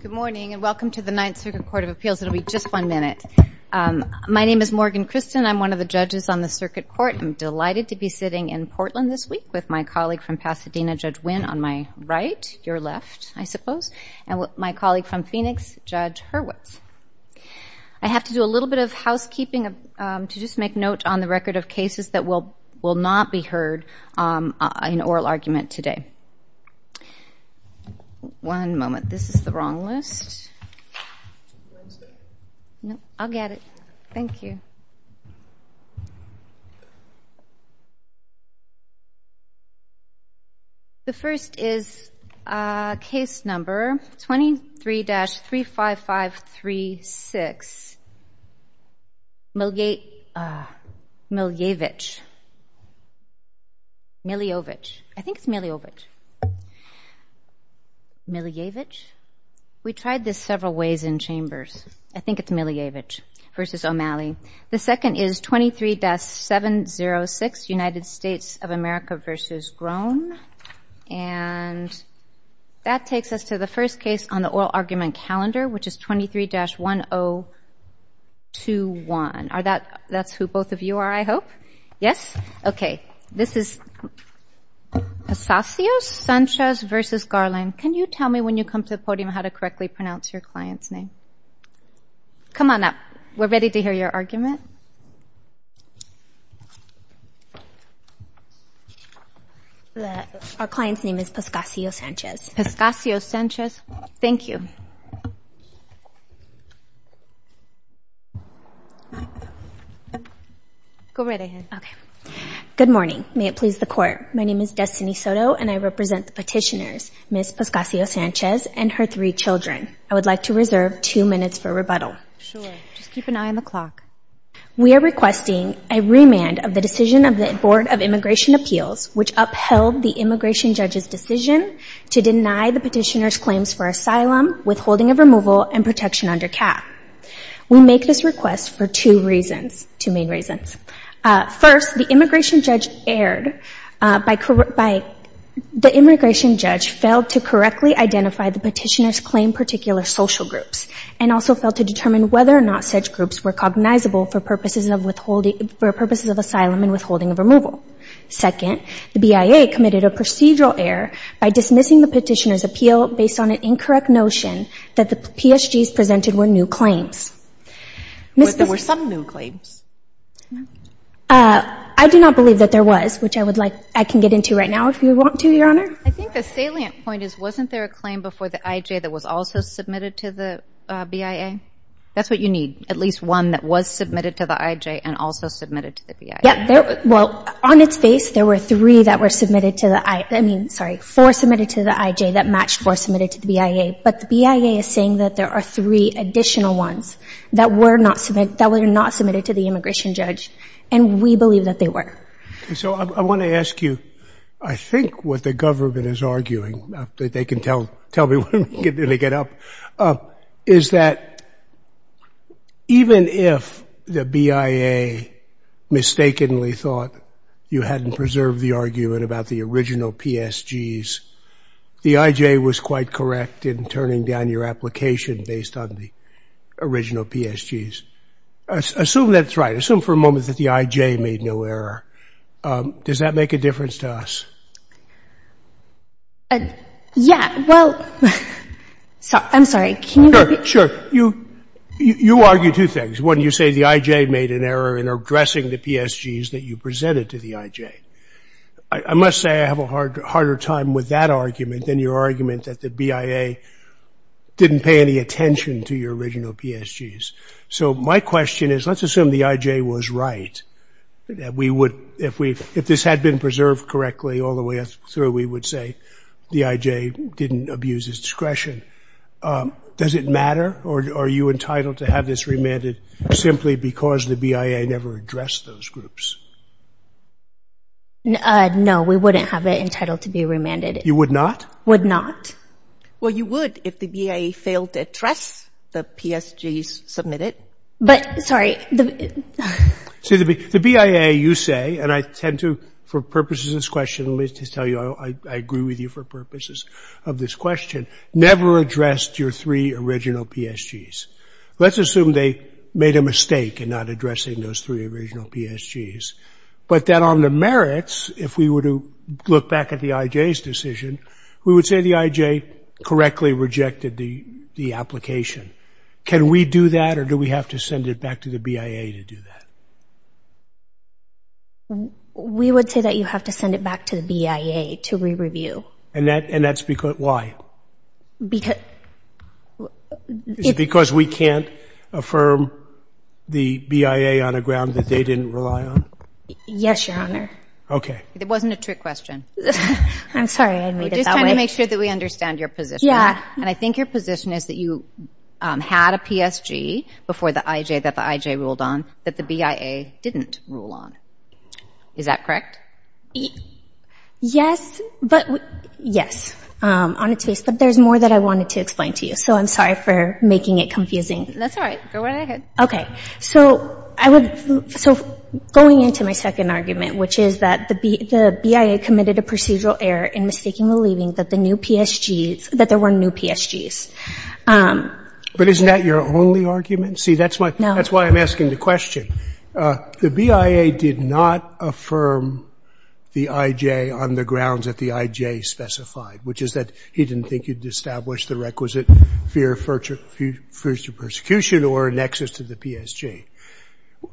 Good morning and welcome to the Ninth Circuit Court of Appeals. It'll be just one minute. My name is Morgan Christen. I'm one of the judges on the Circuit Court. I'm delighted to be sitting in Portland this week with my colleague from Pasadena, Judge Wynn, on my right, your left, I suppose, and my colleague from Phoenix, Judge Hurwitz. I have to do a little bit of housekeeping to just make note on the record of cases that will will not be heard in oral argument today. One moment. This is the wrong list. No, I'll get it. Thank you. The first is case number 23-35536. Miljevic. Miljevic. I think it's Miljevic. Miljevic. We tried this several ways in chambers. I think it's Miljevic v. O'Malley. The second is 23-706, United States of America v. Groen. And that takes us to the first case on the oral argument calendar, which is 23-1021. Are that, that's who both of you are, I hope? Yes? Okay. This is Pascasio-Sanchez v. Garland. Can you tell me when you come to the podium how to correctly pronounce your client's name? Come on up. We're ready to hear your argument. Our client's name is Pascasio-Sanchez. Pascasio-Sanchez. Thank you. Go right ahead. Okay. Good morning. May it please the Court. My name is Destiny Soto and I represent the petitioners, Ms. Pascasio-Sanchez and her three children. I would like to reserve two minutes for rebuttal. Sure. Just keep an eye on the clock. We are requesting a remand of the decision of the Board of Immigration Appeals, which upheld the immigration judge's decision to deny the petitioners for asylum, withholding of removal, and protection under CAP. We make this request for two reasons, two main reasons. First, the immigration judge erred by, the immigration judge failed to correctly identify the petitioners' claim particular social groups and also failed to determine whether or not such groups were cognizable for purposes of withholding, for purposes of asylum and withholding of removal. Second, the BIA committed a procedural error by dismissing the petitioners' appeal based on an incorrect notion that the PSGs presented were new claims. Were there some new claims? I do not believe that there was, which I would like, I can get into right now if you want to, Your Honor. I think the salient point is wasn't there a claim before the IJ that was also submitted to the BIA? That's what you need, at least one that was submitted to the IJ and also submitted to the BIA. Yeah. Well, on its case, there were three that were submitted to the I, I mean, sorry, four submitted to the IJ that matched four submitted to the BIA, but the BIA is saying that there are three additional ones that were not, that were not submitted to the immigration judge and we believe that they were. So I want to ask you, I think what the government is arguing, that they can tell, tell me when they get up, is that even if the BIA mistakenly thought you had preserved the argument about the original PSGs, the IJ was quite correct in turning down your application based on the original PSGs? Assume that's right. Assume for a moment that the IJ made no error. Does that make a difference to us? Yeah, well, I'm sorry. Sure, sure. You, you argue two things. One, you say the IJ made an error in addressing the PSGs that you presented to the IJ. I must say I have a hard, harder time with that argument than your argument that the BIA didn't pay any attention to your original PSGs. So my question is, let's assume the IJ was right. We would, if we, if this had been preserved correctly all the way through, we would say the IJ didn't abuse its discretion. Does it matter or are you entitled to have this remanded simply because the BIA never addressed those groups? No, we wouldn't have it entitled to be remanded. You would not? Would not. Well, you would if the BIA failed to address the PSGs submitted. But, sorry. See, the BIA, you say, and I tend to, for purposes of this question, let me just tell you, I agree with you for purposes of this question, never addressed your three original PSGs. Let's assume they made a mistake in not addressing those three original PSGs. But then on the merits, if we were to look back at the IJ's decision, we would say the IJ correctly rejected the application. Can we do that or do we have to send it back to the BIA to do that? We would say that you have to send it back to the BIA to re-review. And that's because, why? Because. Because we can't affirm the BIA on a ground that they didn't rely on? Yes, Your Honor. Okay. It wasn't a trick question. I'm sorry, I made it that way. We're just trying to make sure that we understand your position. Yeah. And I think your position is that you had a PSG before the IJ, that the IJ ruled on, that the BIA didn't rule on. Is that correct? Yes, but, yes, on its face. But there's more that I wanted to explain to you. So I'm sorry for making it confusing. That's all right. Go ahead. Okay. So I would, so going into my second argument, which is that the BIA committed a procedural error in mistakenly believing that the new PSGs, that there were new PSGs. But isn't that your only argument? See, that's why I'm asking the question. The BIA did not affirm the IJ on the grounds that the IJ specified, which is that he didn't think you'd establish the requisite fear of further persecution or a nexus to the PSG.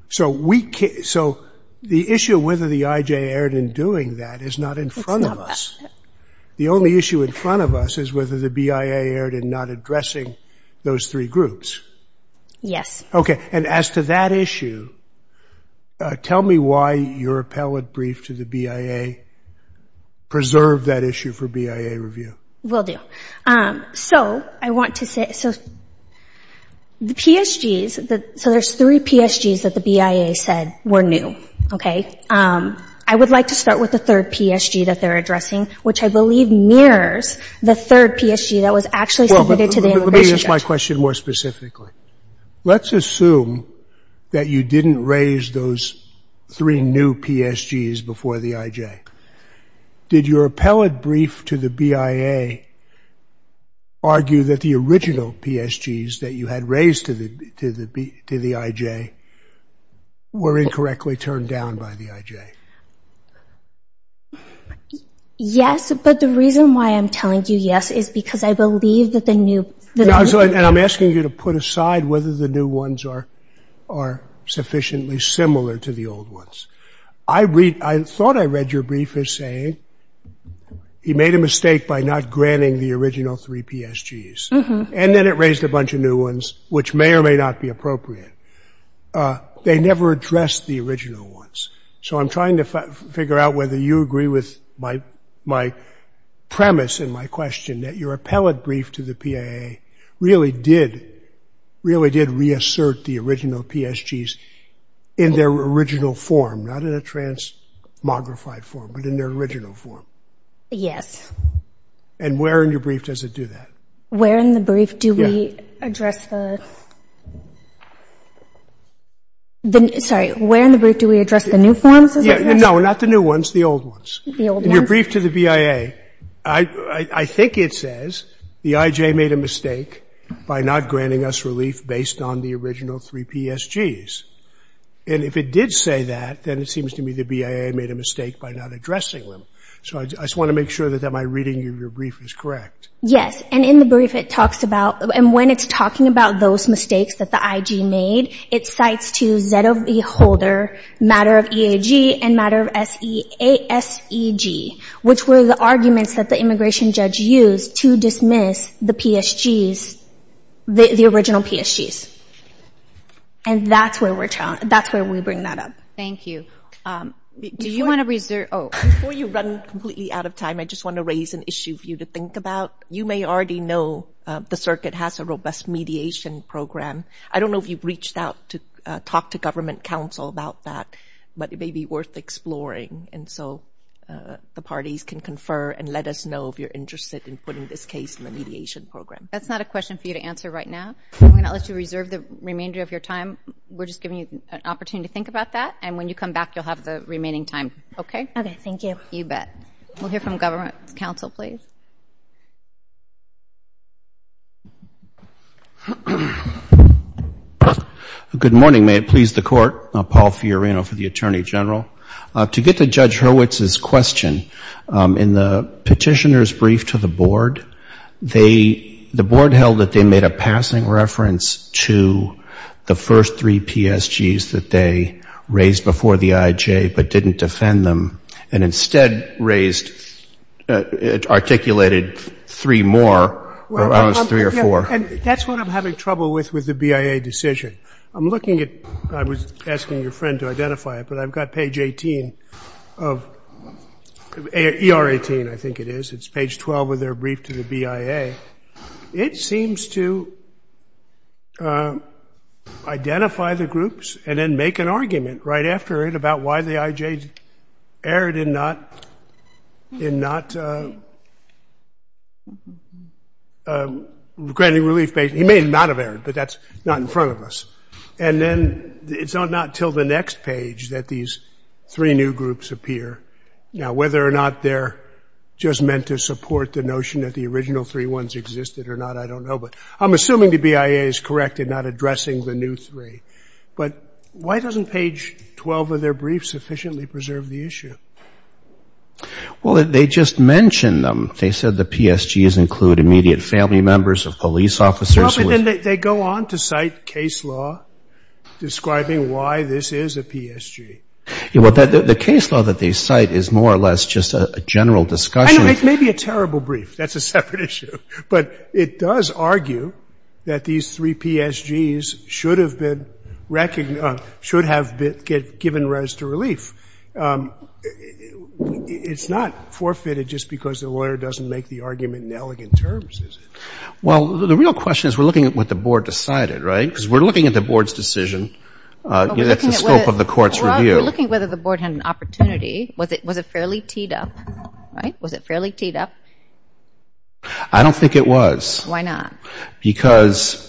So the issue of whether the IJ erred in doing that is not in front of us. The only issue in front of us is whether the BIA erred in not addressing those three groups. Yes. Okay. And as to that issue, tell me why your appellate brief to the BIA preserved that issue for BIA review. Will do. So I want to say, so the PSGs, so there's three PSGs that the BIA said were new. Okay. I would like to start with the third PSG that they're addressing, which I believe mirrors the third PSG that was actually submitted to the immigration judge. Well, let me ask my question more specifically. Let's assume that you didn't raise those three new PSGs before the IJ. Did your appellate brief to the BIA argue that the original PSGs that you had raised to the IJ were incorrectly turned down by the IJ? Yes, but the reason why I'm telling you yes is because I believe that the new... And I'm asking you to put aside whether the new ones are sufficiently similar to the old ones. I thought I read your brief as saying he made a mistake by not granting the original three PSGs, and then it raised a bunch of new ones, which may or may not be appropriate. They never addressed the original ones. So I'm trying to figure out whether you agree with my premise in my question, that your appellate brief to the BIA really did reassert the original PSGs in their original form, not in a transmogrified form, but in their original form. Yes. And where in your brief does it do that? Where in the brief do we address the... Sorry, where in the brief do we address the new forms? No, not the new ones, the old ones. The old ones? In your brief to the BIA, I think it says the IJ made a mistake by not granting us relief based on the original three PSGs. And if it did say that, then it seems to me the BIA made a mistake by not addressing them. So I just want to make sure that my reading of your brief is correct. Yes. And in the brief it talks about, and when it's talking about those mistakes that the IJ made, it cites to Z of E holder matter of EAG and matter of ASEG, which were the arguments that the immigration judge used to dismiss the PSGs, the original PSGs. And that's where we're trying, that's where we bring that up. Thank you. Do you want to reserve? Oh, before you run completely out of time, I just want to raise an issue for you to think about. You may already know the circuit has a robust mediation program. I don't know if you've reached out to talk to government counsel about that, but it may be worth exploring. And so the parties can confer and let us know if you're interested in putting this case in the mediation program. That's not a question for you to answer right now. I'm going to let you reserve the remainder of your time. We're just giving you an opportunity to think about that. And when you come back, you'll have the remaining time. Okay? Okay. Thank you. You bet. We'll hear from government counsel, please. Good morning. May it please the court. Paul Fiorino for the Attorney General. To get to Judge Hurwitz's question in the petitioner's brief to the board, they, the board held that they made a passing reference to the first three PSGs that they raised before the IJ, but didn't defend them and instead raised articulated three more or three or four. That's what I'm having trouble with with the BIA decision. I'm looking at, I was asking your friend to identify it, but I've got page 18 of ER 18 I think it is. It's page 12 of their brief to the BIA. It seems to identify the groups and then make a decision. Make an argument right after it about why the IJ erred in not, in not granting relief. He may not have erred, but that's not in front of us. And then it's not until the next page that these three new groups appear. Now, whether or not they're just meant to support the notion that the original three ones existed or not, I don't know, but I'm assuming the BIA is correct in not addressing the new three. But why doesn't page 12 of their brief sufficiently preserve the issue? Well, they just mentioned them. They said the PSGs include immediate family members of police officers. They go on to cite case law describing why this is a PSG. Yeah. Well, the case law that they cite is more or less just a general discussion. It may be a terrible brief. That's a separate issue, but it does argue that these three PSGs should have been recognized, should have been given rise to relief. It's not forfeited just because the lawyer doesn't make the argument in elegant terms, is it? Well, the real question is we're looking at what the board decided, right? Because we're looking at the board's decision. That's the scope of the court's review. We're looking at whether the board had an opportunity. Was it, was it fairly teed up, right? Was it fairly teed up? I don't think it was. Why not? Because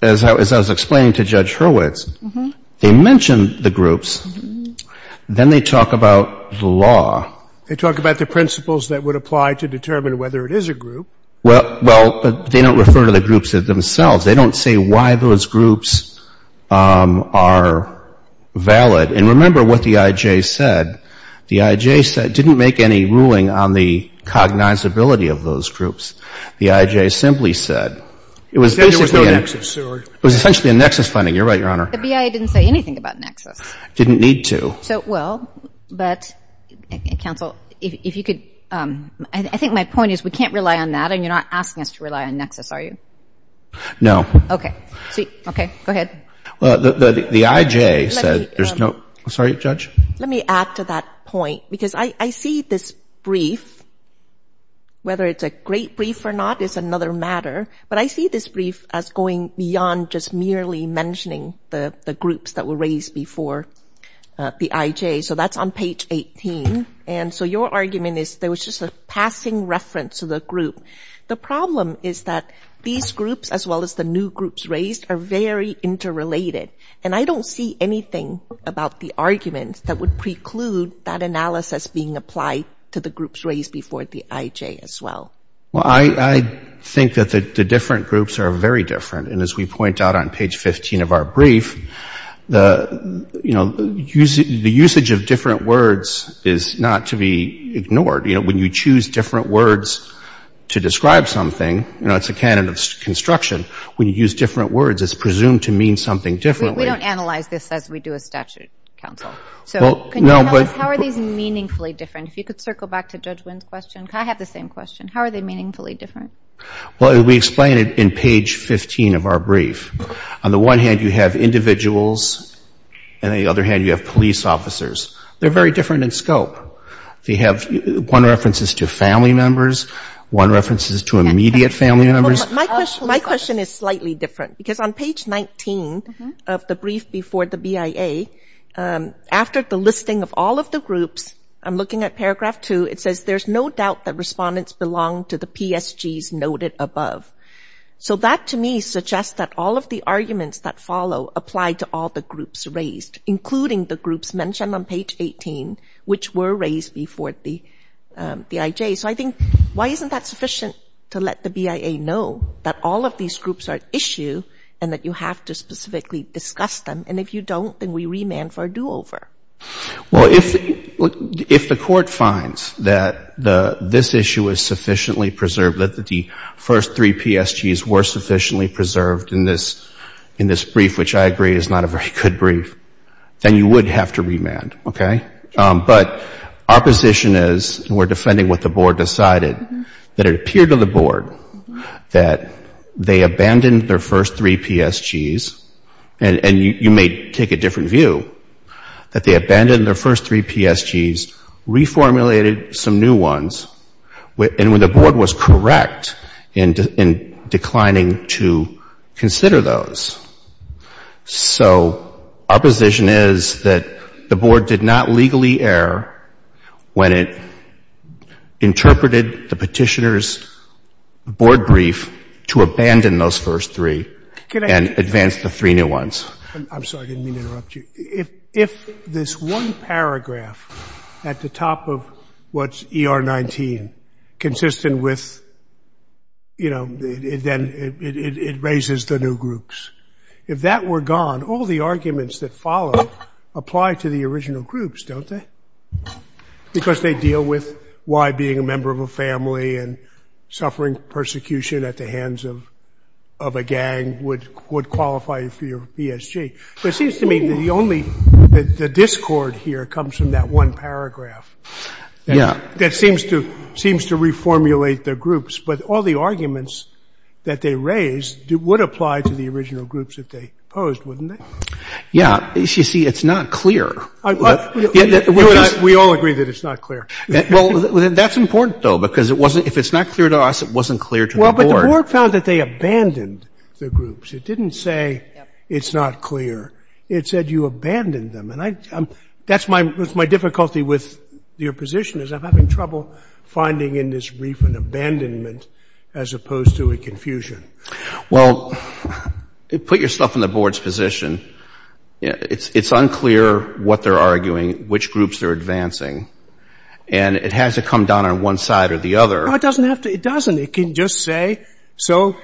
as I was, as I was explaining to Judge Hurwitz, they mentioned the groups, then they talk about the law. They talk about the principles that would apply to determine whether it is a group. Well, well, but they don't refer to the groups themselves. They don't say why those groups are valid. And remember what the IJ said. The IJ said, didn't make any ruling on the cognizability of those groups. The IJ simply said, it was essentially a nexus finding. You're right, Your Honor. The BIA didn't say anything about nexus. Didn't need to. So, well, but counsel, if you could, I think my point is we can't rely on that and you're not asking us to rely on nexus, are you? No. Okay. Sweet. Okay. Go ahead. Well, the IJ said there's no, sorry, Judge? Let me add to that point because I see this brief, whether it's a great brief or not, it's another matter, but I see this brief as going beyond just merely mentioning the groups that were raised before the IJ, so that's on page 18. And so your argument is there was just a passing reference to the group. The problem is that these groups, as well as the new groups raised, are very interrelated. And I don't see anything about the arguments that would preclude that analysis being applied to the groups raised before the IJ, as well. Well, I think that the different groups are very different. And as we point out on page 15 of our brief, the, you know, the usage of different words is not to be ignored. You know, when you choose different words to describe something, you know, it's a canon of construction. When you use different words, it's presumed to mean something differently. We don't analyze this as we do a statute, counsel. So can you analyze how are these meaningfully different? If you could circle back to Judge Wynn's question. I have the same question. How are they meaningfully different? Well, we explain it in page 15 of our brief. On the one hand, you have individuals, and on the other hand, you have police officers. They're very different in scope. They have one reference is to family members, one reference is to immediate family members. My question is slightly different. Because on page 19 of the brief before the BIA, after the listing of all of the groups, I'm looking at paragraph 2, it says there's no doubt that respondents belong to the PSGs noted above. So that to me suggests that all of the arguments that follow apply to all the groups raised, including the groups mentioned on page 18, which were raised before the IJ. So I think, why isn't that sufficient to let the BIA know that all of these groups are at issue and that you have to specifically discuss them? And if you don't, then we remand for a do-over. Well, if the Court finds that this issue is sufficiently preserved, that the first three PSGs were sufficiently preserved in this brief, which I agree is not a very good brief, then you would have to remand, okay? But our position is, and we're defending what the Board decided, that it appeared to the Board that they abandoned their first three PSGs, and you may take a different view, that they abandoned their first three PSGs, reformulated some new ones, and when the Board was correct in declining to consider those. So our position is that the Board did not legally err when it interpreted the Petitioner's Board brief to abandon those first three and advance the three new ones. I'm sorry, I didn't mean to interrupt you. If this one paragraph at the top of what's ER 19 consistent with, you know, then it raises the new groups. If that were gone, all the arguments that follow apply to the original groups, don't they? Because they deal with why being a member of a family and suffering persecution at the hands of a gang would qualify for your PSG. But it seems to me that the only, the discord here comes from that one paragraph. That seems to reformulate the groups. But all the arguments that they raised would apply to the original groups if they opposed, wouldn't they? Yeah. You see, it's not clear. We all agree that it's not clear. Well, that's important, though, because it wasn't, if it's not clear to us, it wasn't clear to the Board. Well, but the Board found that they abandoned the groups. It didn't say it's not clear. It said you abandoned them. And I, that's my, that's my difficulty with your position is I'm having trouble finding in this brief an abandonment as opposed to a confusion. Well, put your stuff in the Board's position. It's unclear what they're arguing, which groups they're advancing. And it has to come down on one side or the other. No, it doesn't have to, it doesn't. It can just say, so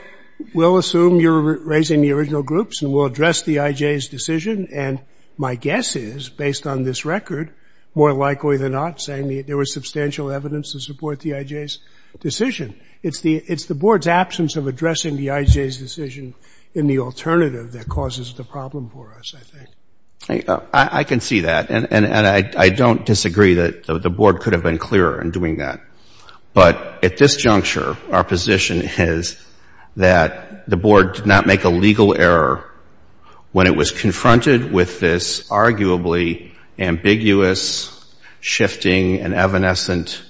we'll assume you're raising the original groups and we'll address the IJ's decision. And my guess is, based on this record, more likely than not saying there was substantial evidence to support the IJ's decision. It's the, it's the Board's absence of addressing the IJ's decision in the alternative that causes the problem for us, I think. I can see that. And I don't disagree that the Board could have been clearer in doing that. But at this juncture, our position is that the Board did not make a legal error when it was confronted with this arguably ambiguous, shifting, and evanescent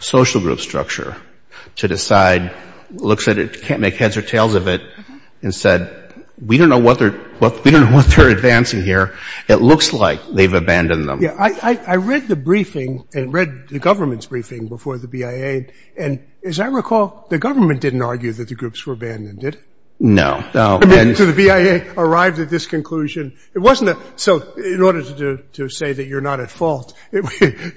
social group structure to decide, looks at it, can't make heads or tails of it, and said, we don't know what they're, we don't know what they're advancing here. It looks like they've abandoned them. Yeah, I read the briefing and read the government's briefing before the BIA. And as I recall, the government didn't argue that the groups were abandoned, did it? No. No. And so the BIA arrived at this conclusion. It wasn't a, so in order to say that you're not at fault, you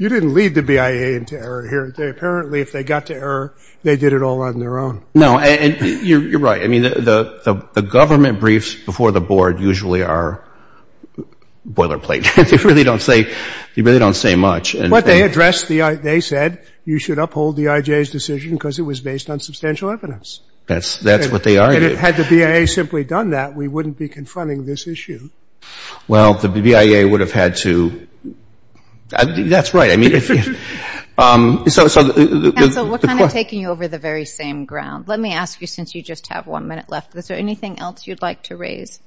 didn't lead the BIA into error here. They apparently, if they got to error, they did it all on their own. No. And you're right. I mean, the government briefs before the Board usually are boilerplate. They really don't say, they really don't say much. But they addressed the, they said you should uphold the IJ's decision because it was based on substantial evidence. That's, that's what they argued. And had the BIA simply done that, we wouldn't be confronting this issue. Well, the BIA would have had to, that's right. I mean, so. So what kind of taking you over the very same ground? Let me ask you, since you just have one minute left, is there anything else you'd like to raise?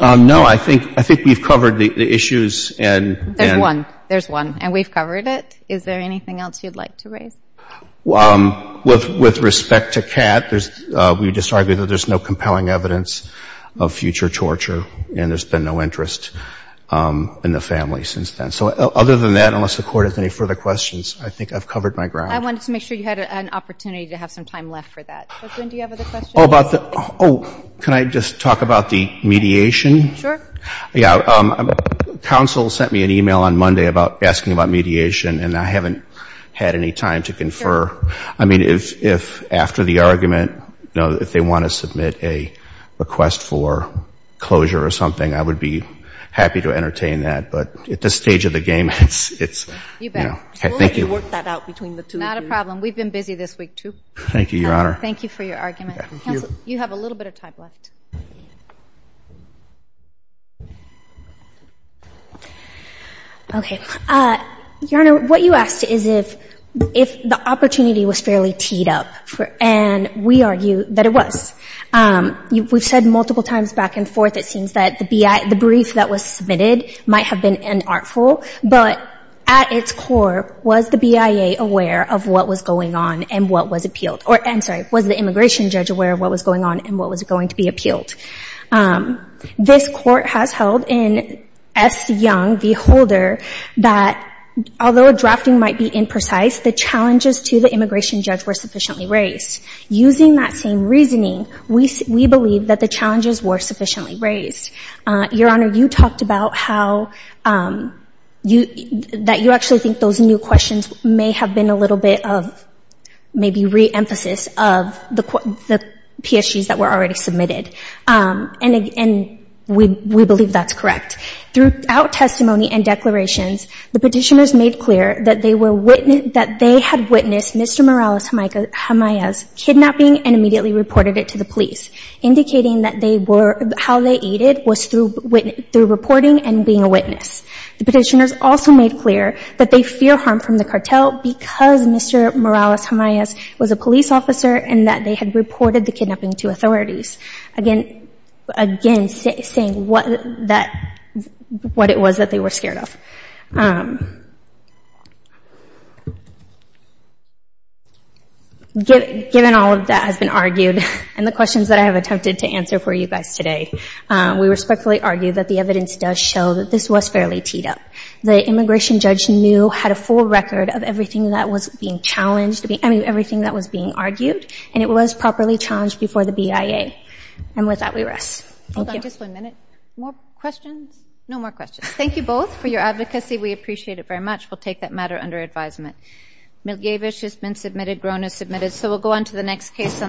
No, I think, I think we've covered the issues and. There's one. There's one. And we've covered it. Is there anything else you'd like to raise? Well, with, with respect to Cat, there's, we just argued that there's no compelling evidence of future torture, and there's been no interest in the family since then. So other than that, unless the Court has any further questions, I think I've covered my ground. I wanted to make sure you had an opportunity to have some time left for that. But, Gwen, do you have other questions? Oh, about the, oh, can I just talk about the mediation? Sure. Yeah. Counsel sent me an email on Monday about asking about mediation, and I haven't had any time to confer. I mean, if, if after the argument, you know, if they want to submit a request for closure or something, I would be happy to entertain that. But at this stage of the game, it's, it's, you know, thank you. We'll let you work that out between the two of you. Not a problem. We've been busy this week, too. Thank you, Your Honor. Thank you for your argument. You have a little bit of time left. Okay. Your Honor, what you asked is if, if the opportunity was fairly teed up for, and we argue that it was. You, we've said multiple times back and forth, it seems that the BIA, the brief that was submitted might have been unartful, but at its core, was the BIA aware of what was going on and what was appealed? Or, I'm sorry, was the immigration judge aware of what was going on and what was going to be appealed? This court has held in S. Young v. Holder, that although a drafting might be imprecise, the challenges to the immigration judge were sufficiently raised. Using that same reasoning, we, we believe that the challenges were sufficiently raised. Your Honor, you talked about how, you, that you actually think those new questions may have been a little bit of maybe re-emphasis of the PSGs that were already submitted. And, and we, we believe that's correct. Throughout testimony and declarations, the petitioners made clear that they were witness, that they had witnessed Mr. Morales-Gamayas kidnapping and immediately reported it to the police, indicating that they were, how they aided was through, through reporting and being a witness. The petitioners also made clear that they fear harm from the cartel because Mr. Morales-Gamayas was a police officer and that they had reported the kidnapping to authorities. Again, again, saying what that, what it was that they were scared of. Given, given all of that has been argued and the questions that I have attempted to answer for you guys today, we respectfully argue that the evidence does show that this was fairly teed up. The immigration judge knew, had a full record of everything that was being challenged, I mean, everything that was being argued, and it was properly challenged before the BIA. And with that, we rest. Thank you. Hold on just one minute. More questions? No more questions. Thank you both for your advocacy. We appreciate it very much. We'll take that matter under advisement. Milgevich has been submitted. Grone has submitted. So we'll go on to the next case on.